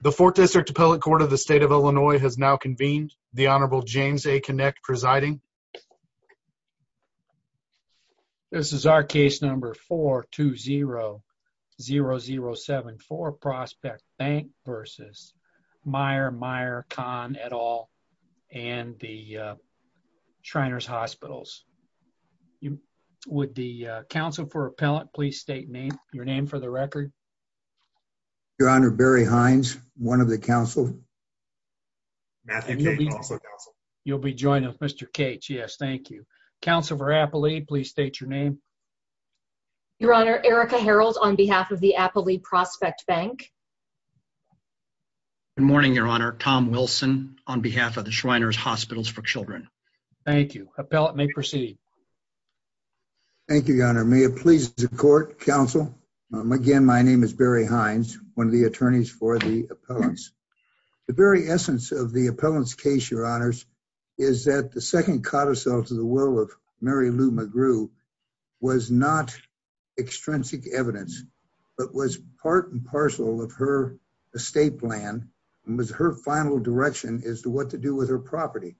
The 4th District Appellate Court of the State of Illinois has now convened, the Honorable James A. Kinect presiding. This is our case number 420-0074, Prospect Bank v. Meyer, Meyer, Kahn, et al., and the Shriners Hospitals. Would the counsel for appellate please state your name for the record? Your Honor, Barry Hines, one of the counsel. You'll be joining us, Mr. Cates, yes, thank you. Counsel for appellate, please state your name. Your Honor, Erica Harold, on behalf of the Appellate Prospect Bank. Good morning, Your Honor, Tom Wilson, on behalf of the Shriners Hospitals for Children. Thank you. Appellate may proceed. Thank you, Your Honor. Your Honor, may it please the court, counsel, again, my name is Barry Hines, one of the attorneys for the appellants. The very essence of the appellant's case, Your Honors, is that the second codicil to the will of Mary Lou McGrew was not extrinsic evidence, but was part and parcel of her estate plan and was her final direction as to what to do with her property.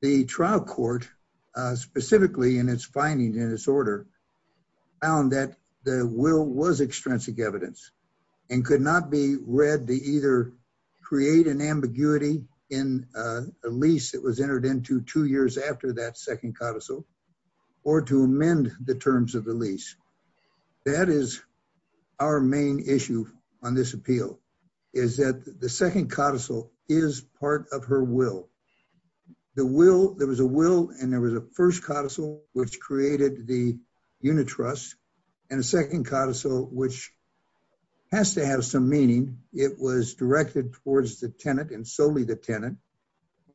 The trial court, specifically in its findings and its order, found that the will was extrinsic evidence and could not be read to either create an ambiguity in a lease that was entered into two years after that second codicil or to amend the terms of the lease. That is our main issue on this appeal, is that the second codicil is part of her will. The will, there was a will and there was a first codicil which created the unit trust and a second codicil which has to have some meaning. It was directed towards the tenant and solely the tenant.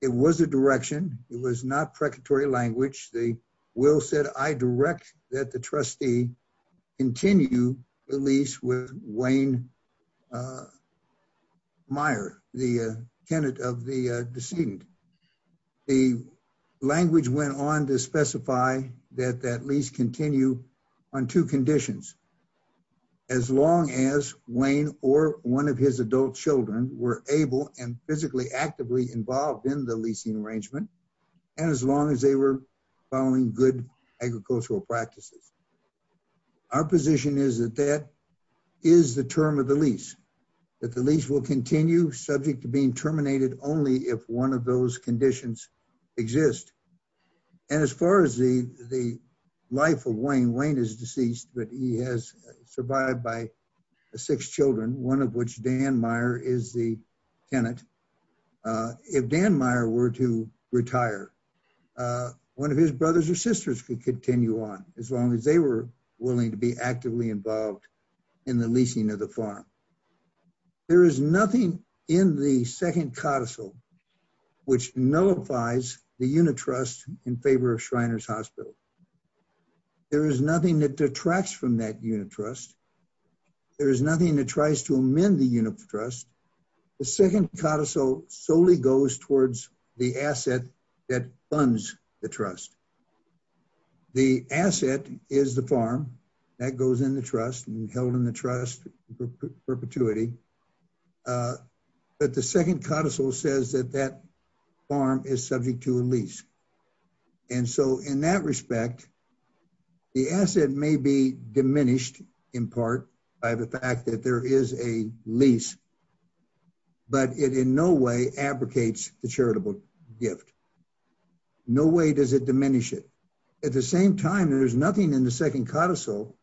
It was a direction. It was not precatory language. The will said, I direct that the trustee continue the lease with Wayne Meyer, the tenant of the decedent. The language went on to specify that that lease continue on two conditions. As long as Wayne or one of his adult children were able and physically actively involved in the leasing arrangement and as long as they were following good agricultural practices. Our position is that that is the term of the lease, that the lease will continue subject to being terminated only if one of those conditions exist. As far as the life of Wayne, Wayne is deceased, but he has survived by six children, one of which Dan Meyer is the tenant. If Dan Meyer were to retire, one of his brothers or sisters could continue on as long as they were willing to be actively involved in the leasing of the farm. There is nothing in the second codicil which nullifies the unit trust in favor of Shriners Hospital. There is nothing that detracts from that unit trust. There is nothing that tries to amend the unit trust. The second codicil solely goes towards the asset that funds the trust. The asset is the farm that goes in the trust and held in the trust perpetuity. But the second codicil says that that farm is subject to a lease. And so in that respect, the asset may be diminished in part by the fact that there is a lease but it in no way abrogates the charitable gift. No way does it diminish it. At the same time, there is nothing in the second codicil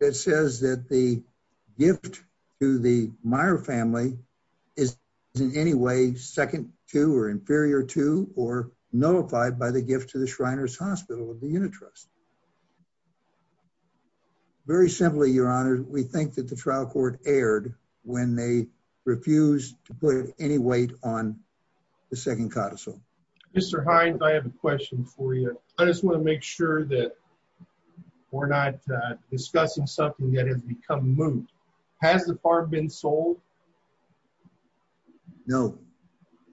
that says that the gift to the Meyer family is in any way second to or inferior to or nullified by the gift to the Shriners Hospital of the unit trust. Very simply, your honor, we think that the trial court erred when they refused to put any weight on the second codicil. Mr. Hines, I have a question for you. I just want to make sure that we're not discussing something that has become moot. Has the farm been sold? No.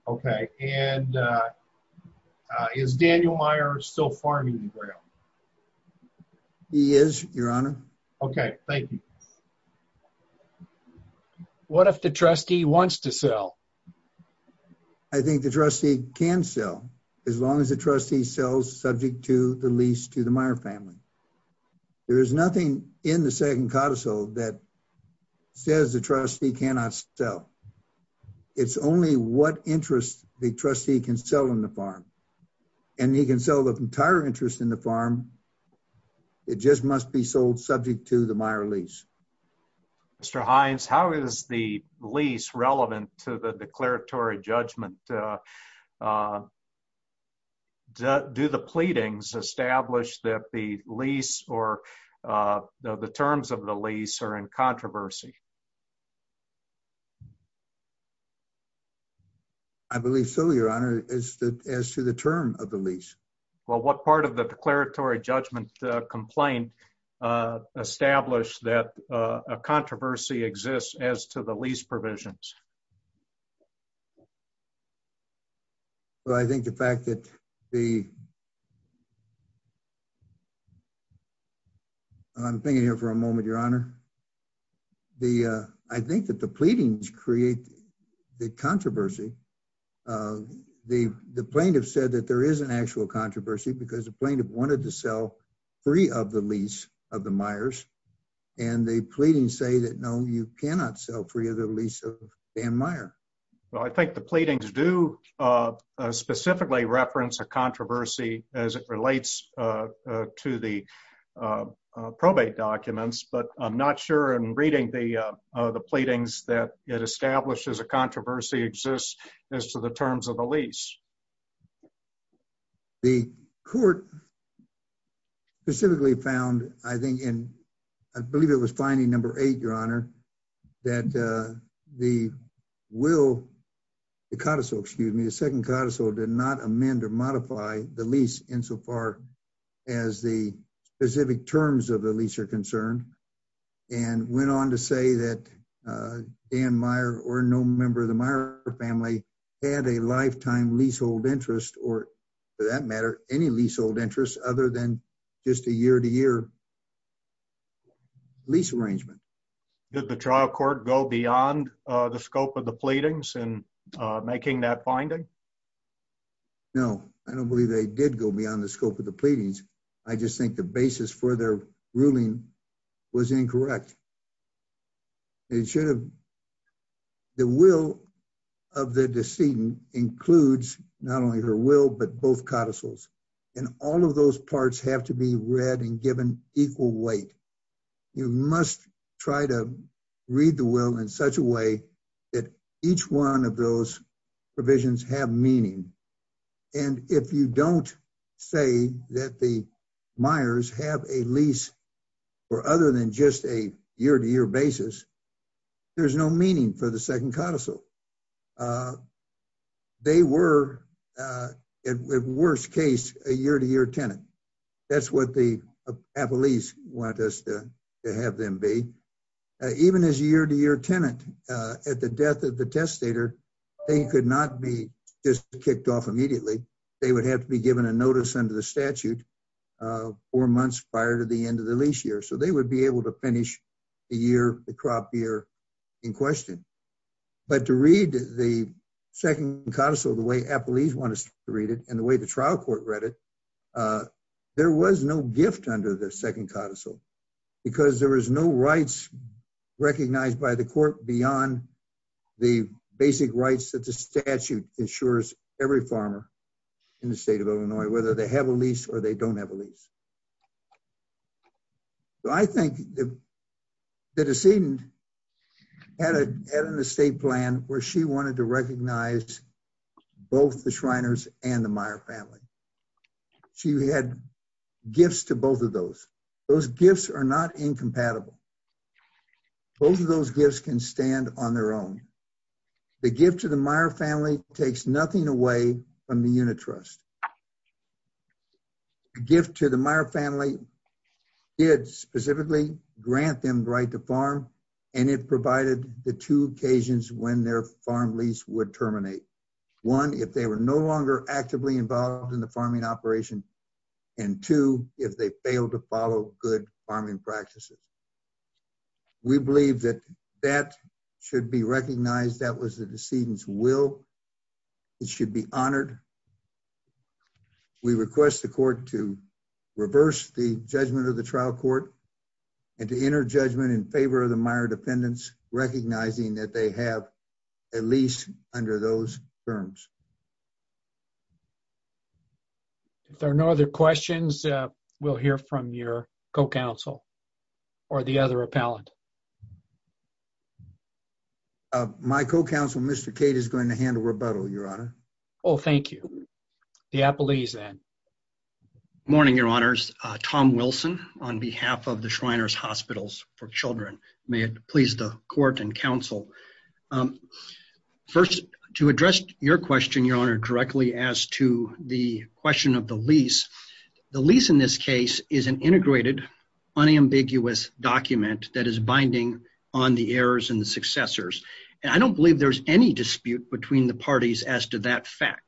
Okay. And is Daniel Meyer still farming the ground? He is, your honor. Okay, thank you. What if the trustee wants to sell? I think the trustee can sell as long as the trustee sells subject to the lease to the Meyer family. There is nothing in the second codicil that says the trustee cannot sell. It's only what interest the trustee can sell in the farm. And he can sell the entire interest in the farm. It just must be sold subject to the Meyer lease. Mr. Hines, how is the lease relevant to the declaratory judgment? Do the pleadings establish that the lease or the terms of the lease are in controversy? I believe so, your honor, as to the term of the lease. Well, what part of the declaratory judgment complaint established that a controversy exists as to the lease provisions? Well, I think the fact that the... I'm thinking here for a moment, your honor. I think that the pleadings create the controversy. The plaintiff said that there is an actual controversy because the plaintiff wanted to sell free of the lease of the Meyers. And the pleadings say that no, you cannot sell free of the lease of Dan Meyer. Well, I think the pleadings do specifically reference a controversy as it relates to the probate documents. But I'm not sure in reading the pleadings that it establishes a controversy exists as to the terms of the lease. The court specifically found, I think in, I believe it was finding number eight, your honor, that the will, the codicil, excuse me, the second codicil did not amend or modify the lease insofar as the specific terms of the lease are concerned. And went on to say that Dan Meyer or no member of the Meyer family had a lifetime leasehold interest or for that matter, any leasehold interest other than just a year to year lease arrangement. Did the trial court go beyond the scope of the pleadings in making that finding? No. I don't believe they did go beyond the scope of the pleadings. I just think the basis for their ruling was incorrect. It should have, the will of the decedent includes not only her will, but both codicils and all of those parts have to be read and given equal weight. You must try to read the will in such a way that each one of those provisions have meaning and if you don't say that the Meyers have a lease or other than just a year to year basis, there's no meaning for the second codicil. They were at worst case, a year to year tenant. That's what the appellees want us to have them be. Even as a year to year tenant at the death of the testator, they could not be just kicked off immediately. They would have to be given a notice under the statute four months prior to the end of the lease year. So they would be able to finish the year, the crop year in question. But to read the second codicil the way appellees want us to read it and the way the trial court read it, there was no gift under the second codicil because there was no rights recognized by the court beyond the basic rights that the statute ensures every farmer in the state of Illinois, whether they have a lease or they don't have a lease. I think the decedent had an estate plan where she wanted to recognize both the Shriners and the Meyer family. She had gifts to both of those. Those gifts are not incompatible. Both of those gifts can stand on their own. The gift to the Meyer family takes nothing away from the unit trust. The gift to the Meyer family did specifically grant them the right to farm and it provided the two occasions when their farm lease would terminate. One, if they were no longer actively involved in the farming operation and two, if they failed to follow good farming practices. We believe that that should be recognized. That was the decedent's will. It should be honored. We request the court to reverse the judgment of the trial court and to enter judgment in If there are no other questions, we'll hear from your co-counsel or the other appellant. My co-counsel, Mr. Cade, is going to handle rebuttal, Your Honor. Oh, thank you. The appellee's then. Good morning, Your Honors. Tom Wilson on behalf of the Shriners Hospitals for Children. May it please the court and counsel. First, to address your question, Your Honor, directly as to the question of the lease. The lease in this case is an integrated, unambiguous document that is binding on the heirs and the successors. And I don't believe there's any dispute between the parties as to that fact.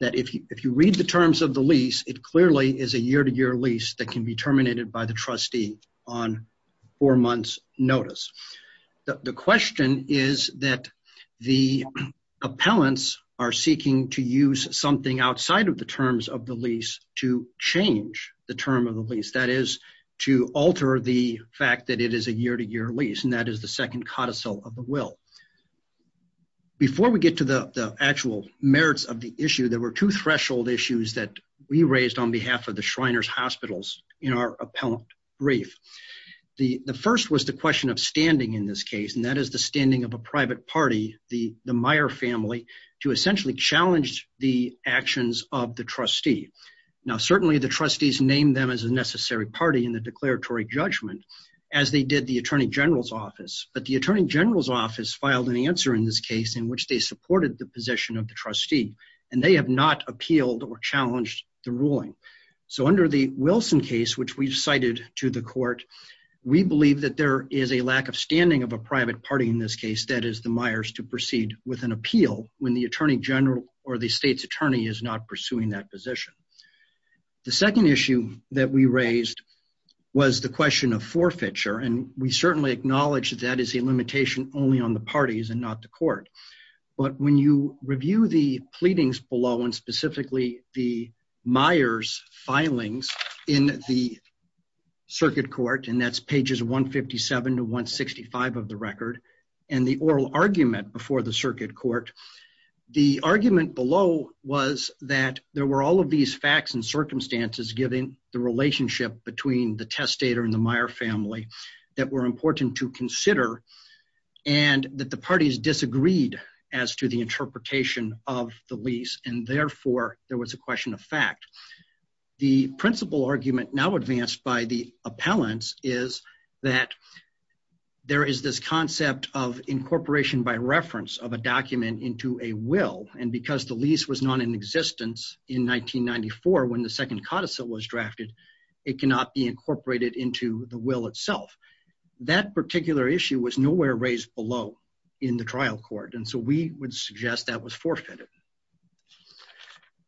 That if you read the terms of the lease, it clearly is a year-to-year lease that can be terminated by the trustee on four months' notice. The question is that the appellants are seeking to use something outside of the terms of the lease to change the term of the lease, that is, to alter the fact that it is a year-to-year lease, and that is the second codicil of the will. Before we get to the actual merits of the issue, there were two threshold issues that we raised on behalf of the Shriners Hospitals in our appellant brief. The first was the question of standing in this case, and that is the standing of a private party, the Meyer family, to essentially challenge the actions of the trustee. Now, certainly the trustees named them as a necessary party in the declaratory judgment, as they did the Attorney General's Office, but the Attorney General's Office filed an answer in this case in which they supported the position of the trustee, and they have not appealed or challenged the ruling. So under the Wilson case, which we cited to the court, we believe that there is a lack of standing of a private party in this case, that is, the Myers, to proceed with an appeal when the Attorney General or the state's attorney is not pursuing that position. The second issue that we raised was the question of forfeiture, and we certainly acknowledge that that is a limitation only on the parties and not the court, but when you review the parties' filings in the circuit court, and that's pages 157 to 165 of the record, and the oral argument before the circuit court, the argument below was that there were all of these facts and circumstances given the relationship between the testator and the Meyer family that were important to consider, and that the parties disagreed as to the interpretation of the lease, and therefore, there was a question of fact. The principal argument now advanced by the appellants is that there is this concept of incorporation by reference of a document into a will, and because the lease was not in existence in 1994 when the second codicil was drafted, it cannot be incorporated into the will itself. That particular issue was nowhere raised below in the trial court, and so we would suggest that was forfeited.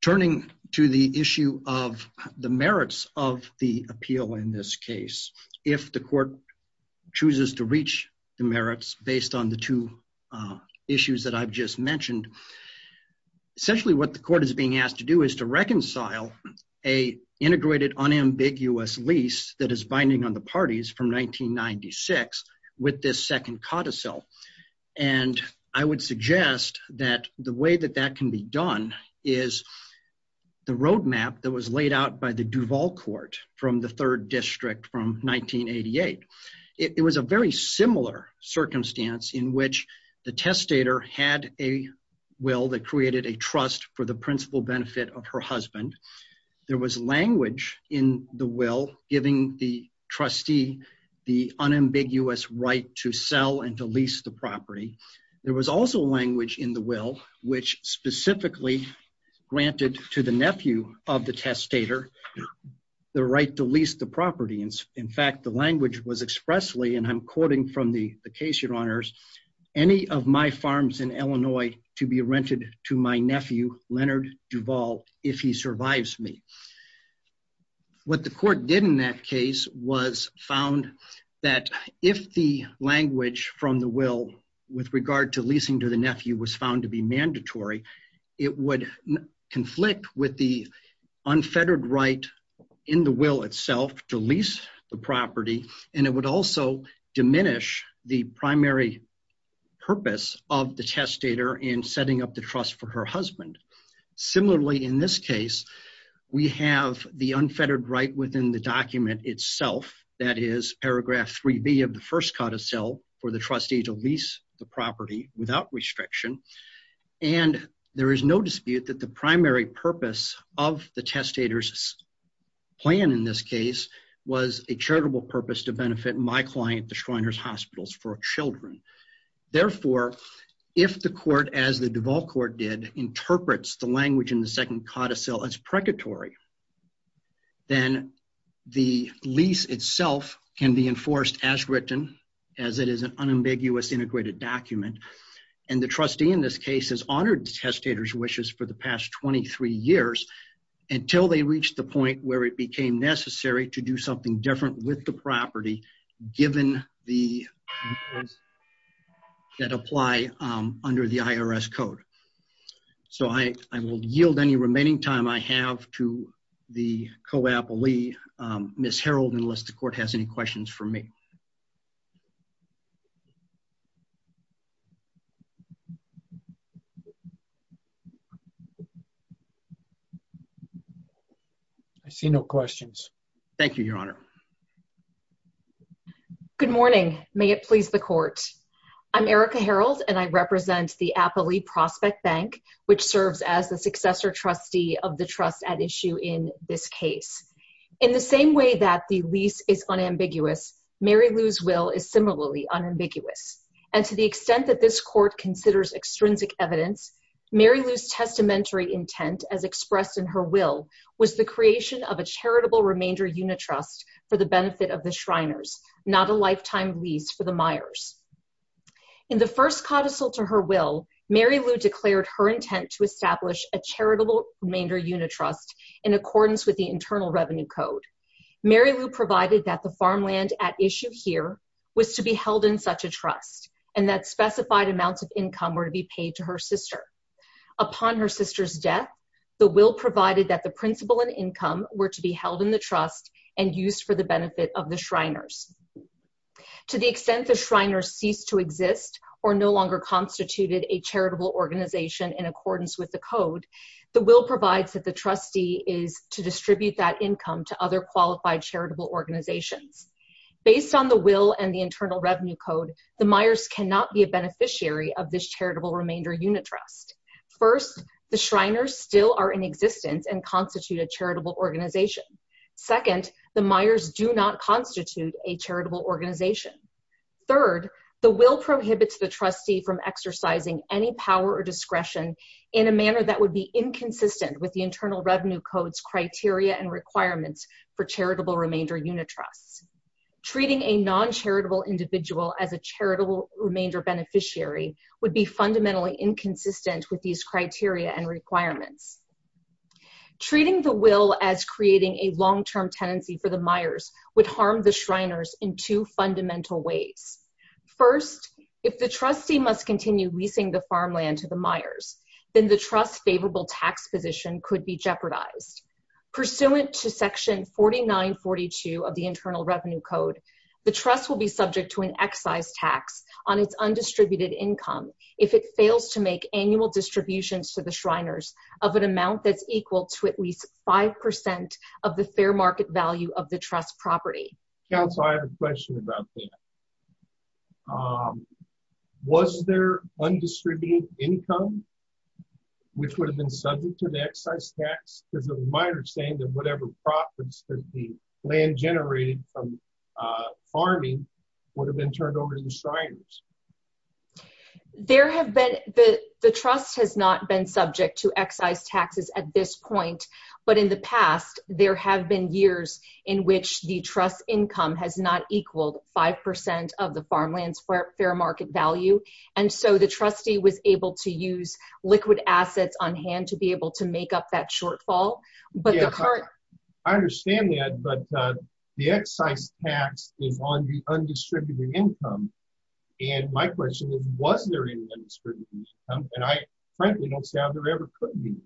Turning to the issue of the merits of the appeal in this case, if the court chooses to reach the merits based on the two issues that I've just mentioned, essentially what the court is being asked to do is to reconcile a integrated unambiguous lease that is binding on the parties from 1996 with this second codicil, and I would suggest that the way that that can be done is the roadmap that was laid out by the Duval court from the third district from 1988. It was a very similar circumstance in which the testator had a will that created a trust for the principal benefit of her husband. There was language in the will giving the trustee the unambiguous right to sell and to lease the property. There was also language in the will which specifically granted to the nephew of the testator the right to lease the property, and in fact, the language was expressly, and I'm quoting from the case, your honors, any of my farms in Illinois to be rented to my wife, and she survives me. What the court did in that case was found that if the language from the will with regard to leasing to the nephew was found to be mandatory, it would conflict with the unfettered right in the will itself to lease the property, and it would also diminish the primary purpose of the testator in setting up the trust for her husband. Similarly, in this case, we have the unfettered right within the document itself, that is paragraph 3B of the first codicil for the trustee to lease the property without restriction, and there is no dispute that the primary purpose of the testator's plan in this case was a charitable purpose to benefit my client, the Schreiner's Hospitals, for children. Therefore, if the court, as the Duval Court did, interprets the language in the second codicil as precatory, then the lease itself can be enforced as written, as it is an unambiguous integrated document, and the trustee in this case has honored the testator's wishes for the past 23 years until they reached the point where it became necessary to do something different with the property, given the rules that apply under the IRS code. So I will yield any remaining time I have to the co-appellee, Ms. Herold, unless the court has any questions for me. I see no questions. Thank you, Your Honor. Good morning. May it please the court. I'm Erica Herold, and I represent the Applee Prospect Bank, which serves as the successor trustee of the trust at issue in this case. In the same way that the lease is unambiguous, Mary Lou's will is similarly unambiguous, and to the extent that this court considers extrinsic evidence, Mary Lou's testamentary remainder unit trust for the benefit of the Shriners, not a lifetime lease for the Meyers. In the first codicil to her will, Mary Lou declared her intent to establish a charitable remainder unit trust in accordance with the Internal Revenue Code. Mary Lou provided that the farmland at issue here was to be held in such a trust, and that specified amounts of income were to be paid to her sister. Upon her sister's death, the will provided that the principal and income were to be held in the trust and used for the benefit of the Shriners. To the extent the Shriners cease to exist or no longer constituted a charitable organization in accordance with the code, the will provides that the trustee is to distribute that income to other qualified charitable organizations. Based on the will and the Internal Revenue Code, the Meyers cannot be a beneficiary of this charitable remainder unit trust. First, the Shriners still are in existence and constitute a charitable organization. Second, the Meyers do not constitute a charitable organization. Third, the will prohibits the trustee from exercising any power or discretion in a manner that would be inconsistent with the Internal Revenue Code's criteria and requirements for charitable remainder unit trusts. Treating a non-charitable individual as a charitable remainder beneficiary would be fundamentally inconsistent with these criteria and requirements. Treating the will as creating a long-term tenancy for the Meyers would harm the Shriners in two fundamental ways. First, if the trustee must continue leasing the farmland to the Meyers, then the trust's favorable tax position could be jeopardized. Pursuant to section 4942 of the Internal Revenue Code, the trust will be subject to an excise tax on its undistributed income if it fails to make annual distributions to the Shriners of an amount that's equal to at least 5% of the fair market value of the trust property. Counsel, I have a question about that. Was there undistributed income which would have been subject to the excise tax? Because it was my understanding that whatever profits that the land generated from farming would have been turned over to the Shriners. There have been, the trust has not been subject to excise taxes at this point, but in the past there have been years in which the trust income has not equaled 5% of the farmland's fair market value, and so the trustee was able to use liquid assets on hand to be able to make up that shortfall, but the current- My question is, was there any undistributed income? I frankly don't see how there ever could be.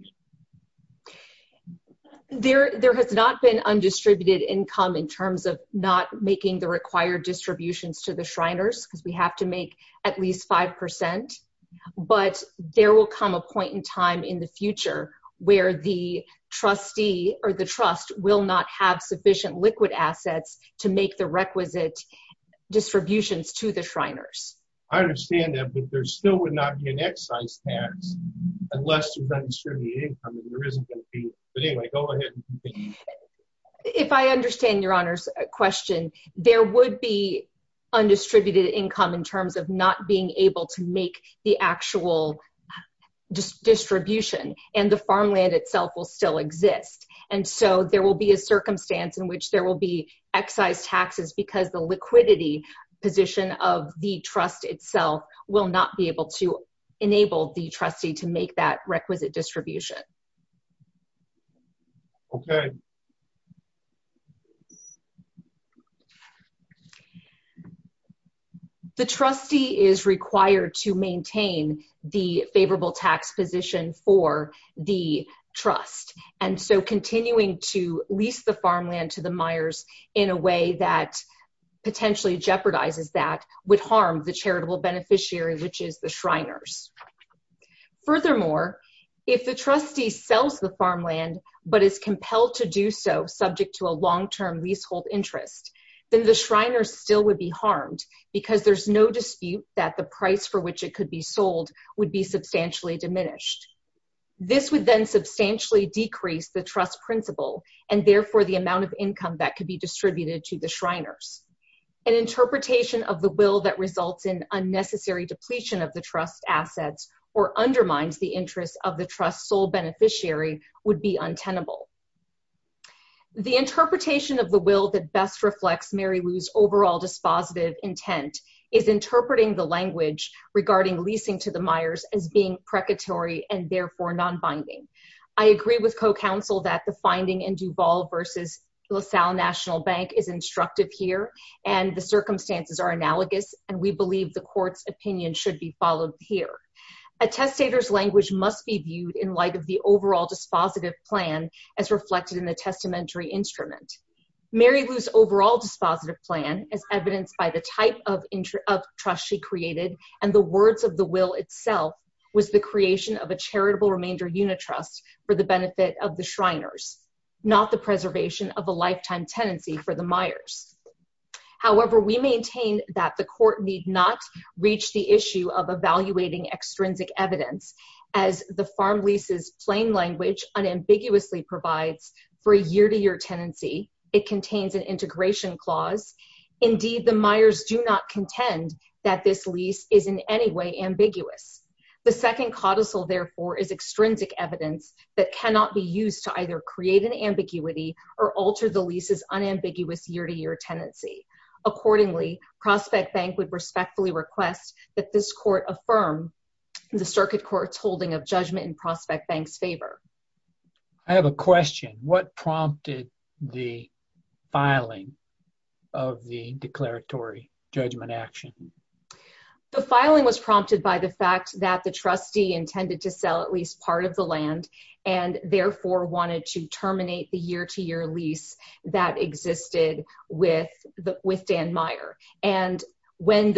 There has not been undistributed income in terms of not making the required distributions to the Shriners because we have to make at least 5%, but there will come a point in time in the future where the trustee or the trust will not have sufficient liquid assets to make the requisite distributions to the Shriners. I understand that, but there still would not be an excise tax unless there's undistributed income, and there isn't going to be. But anyway, go ahead. If I understand Your Honor's question, there would be undistributed income in terms of not being able to make the actual distribution, and the farmland itself will still exist, and so there will be a circumstance in which there will be excise taxes because the liquidity position of the trust itself will not be able to enable the trustee to make that requisite distribution. Okay. The trustee is required to maintain the favorable tax position for the trust, and so continuing to lease the farmland to the Myers in a way that potentially jeopardizes that would harm the charitable beneficiary, which is the Shriners. Furthermore, if the trustee sells the farmland but is compelled to do so subject to a long-term leasehold interest, then the Shriners still would be harmed because there's no dispute that the price for which it could be sold would be substantially diminished. This would then substantially decrease the trust principle, and therefore the amount of income that could be distributed to the Shriners. An interpretation of the will that results in unnecessary depletion of the trust assets or undermines the interest of the trust's sole beneficiary would be untenable. The interpretation of the will that best reflects Mary Lou's overall dispositive intent is interpreting the language regarding leasing to the Myers as being precatory and therefore nonbinding. I agree with co-counsel that the finding in Duval versus LaSalle National Bank is instructive here, and the circumstances are analogous, and we believe the court's opinion should be followed here. A testator's language must be viewed in light of the overall dispositive plan as reflected in the testamentary instrument. Mary Lou's overall dispositive plan, as evidenced by the type of trust she created and the words of the will itself, was the creation of a charitable remainder unit trust for the benefit of the Shriners, not the preservation of a lifetime tenancy for the Myers. However, we maintain that the court need not reach the issue of evaluating extrinsic evidence as the farm lease's plain language unambiguously provides for a year-to-year tenancy. It contains an integration clause. Indeed, the Myers do not contend that this lease is in any way ambiguous. The second codicil, therefore, is extrinsic evidence that cannot be used to either create an ambiguity or alter the lease's unambiguous year-to-year tenancy. Accordingly, Prospect Bank would respectfully request that this court affirm the circuit court's holding of Judgment and Prospect Bank's favor. I have a question. What prompted the filing of the declaratory judgment action? The filing was prompted by the fact that the trustee intended to sell at least part of the land and therefore wanted to terminate the year-to-year lease that existed with Dan went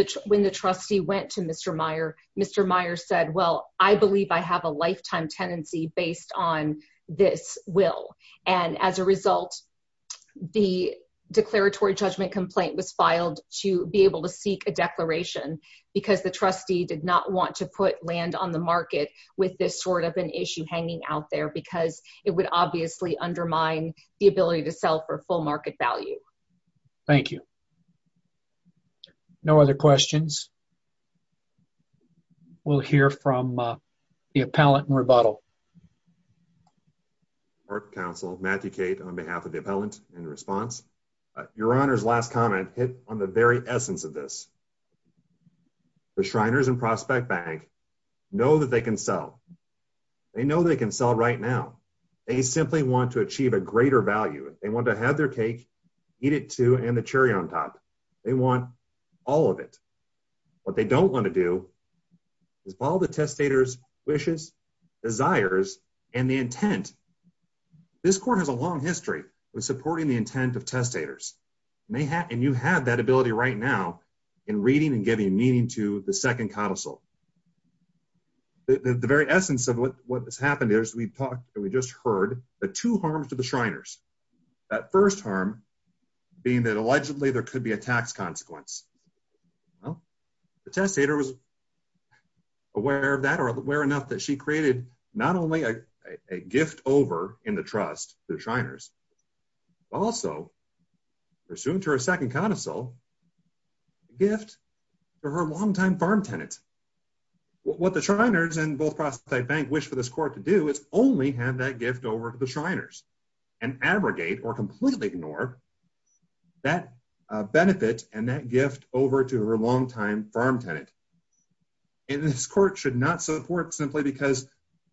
to Mr. Meyer. Mr. Meyer said, well, I believe I have a lifetime tenancy based on this will. And as a result, the declaratory judgment complaint was filed to be able to seek a declaration because the trustee did not want to put land on the market with this sort of an issue hanging out there because it would obviously undermine the ability to sell for full market value. Thank you. No other questions? We'll hear from the appellant and rebuttal. Our counsel, Matthew Kate, on behalf of the appellant in response, your honor's last comment hit on the very essence of this. The Shriners and Prospect Bank know that they can sell. They know they can sell right now. They simply want to achieve a greater value. They want to have their cake, eat it too. And the cherry on top. They want all of it. What they don't want to do is follow the testators wishes, desires, and the intent. This court has a long history with supporting the intent of testators. And you have that ability right now in reading and giving meaning to the second counsel. The very essence of what has happened is we've talked and we just heard the two harms to the Shriners. That first harm being that allegedly there could be a tax consequence. Well, the testator was aware of that or aware enough that she created not only a gift over in the trust to the Shriners, but also, pursuant to her second counsel, a gift to her longtime farm tenant. What the Shriners and both Prospect Bank wish for this court to do is only have that gift over to the Shriners and abrogate or completely ignore that benefit and that gift over to her longtime farm tenant. And this court should not support simply because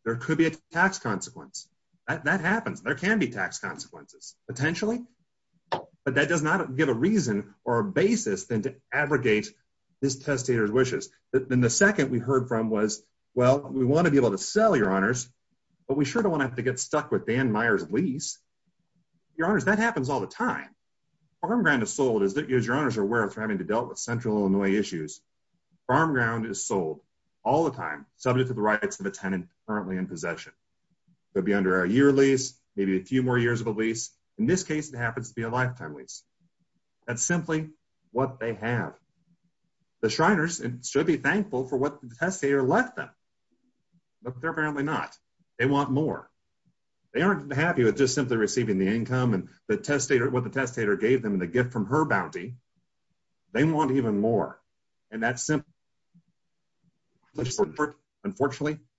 there could be a tax consequence. That happens. There can be tax consequences, potentially, but that does not give a reason or a basis than to abrogate this testator's wishes. And the second we heard from was, well, we want to be able to sell your honors, but we sure don't want to have to get stuck with Dan Meyer's lease. Your honors, that happens all the time. Farm ground is sold, as your honors are aware, for having to deal with central Illinois issues. Farm ground is sold all the time, subject to the rights of a tenant currently in possession. They'll be under a year lease, maybe a few more years of a lease. In this case, it happens to be a lifetime lease. That's simply what they have. The Shriners should be thankful for what the testator left them, but they're apparently not. They want more. They aren't happy with just simply receiving the income and what the testator gave them and the gift from her bounty. They want even more. Unfortunately,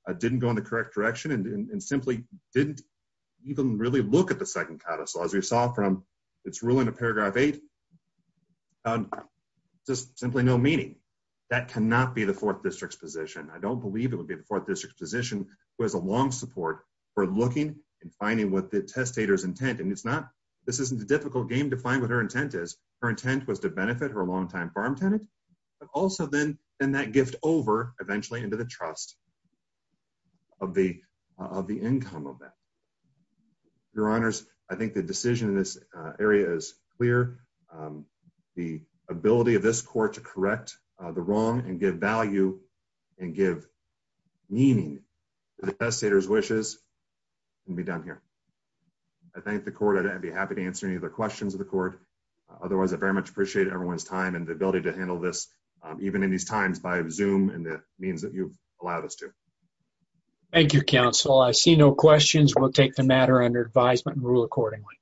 I didn't go in the correct direction and simply didn't even really look at the second codicil. As we saw from its ruling of paragraph eight, just simply no meaning. That cannot be the fourth district's position. I don't believe it would be the fourth district's position who has a long support for looking and finding what the testator's intent. This isn't a difficult game to find what her intent is. Her intent was to benefit her longtime farm tenant, but also then that gift over eventually into the trust of the income of that. Your honors, I think the decision in this area is clear. The ability of this court to correct the wrong and give value and give meaning to the testator's wishes can be done here. I thank the court. I'd be happy to answer any of the questions of the court. Otherwise, I very much appreciate everyone's time and the ability to handle this even in these times by Zoom and the means that you've allowed us to. Thank you, counsel. I see no questions. We'll take the matter under advisement and rule accordingly.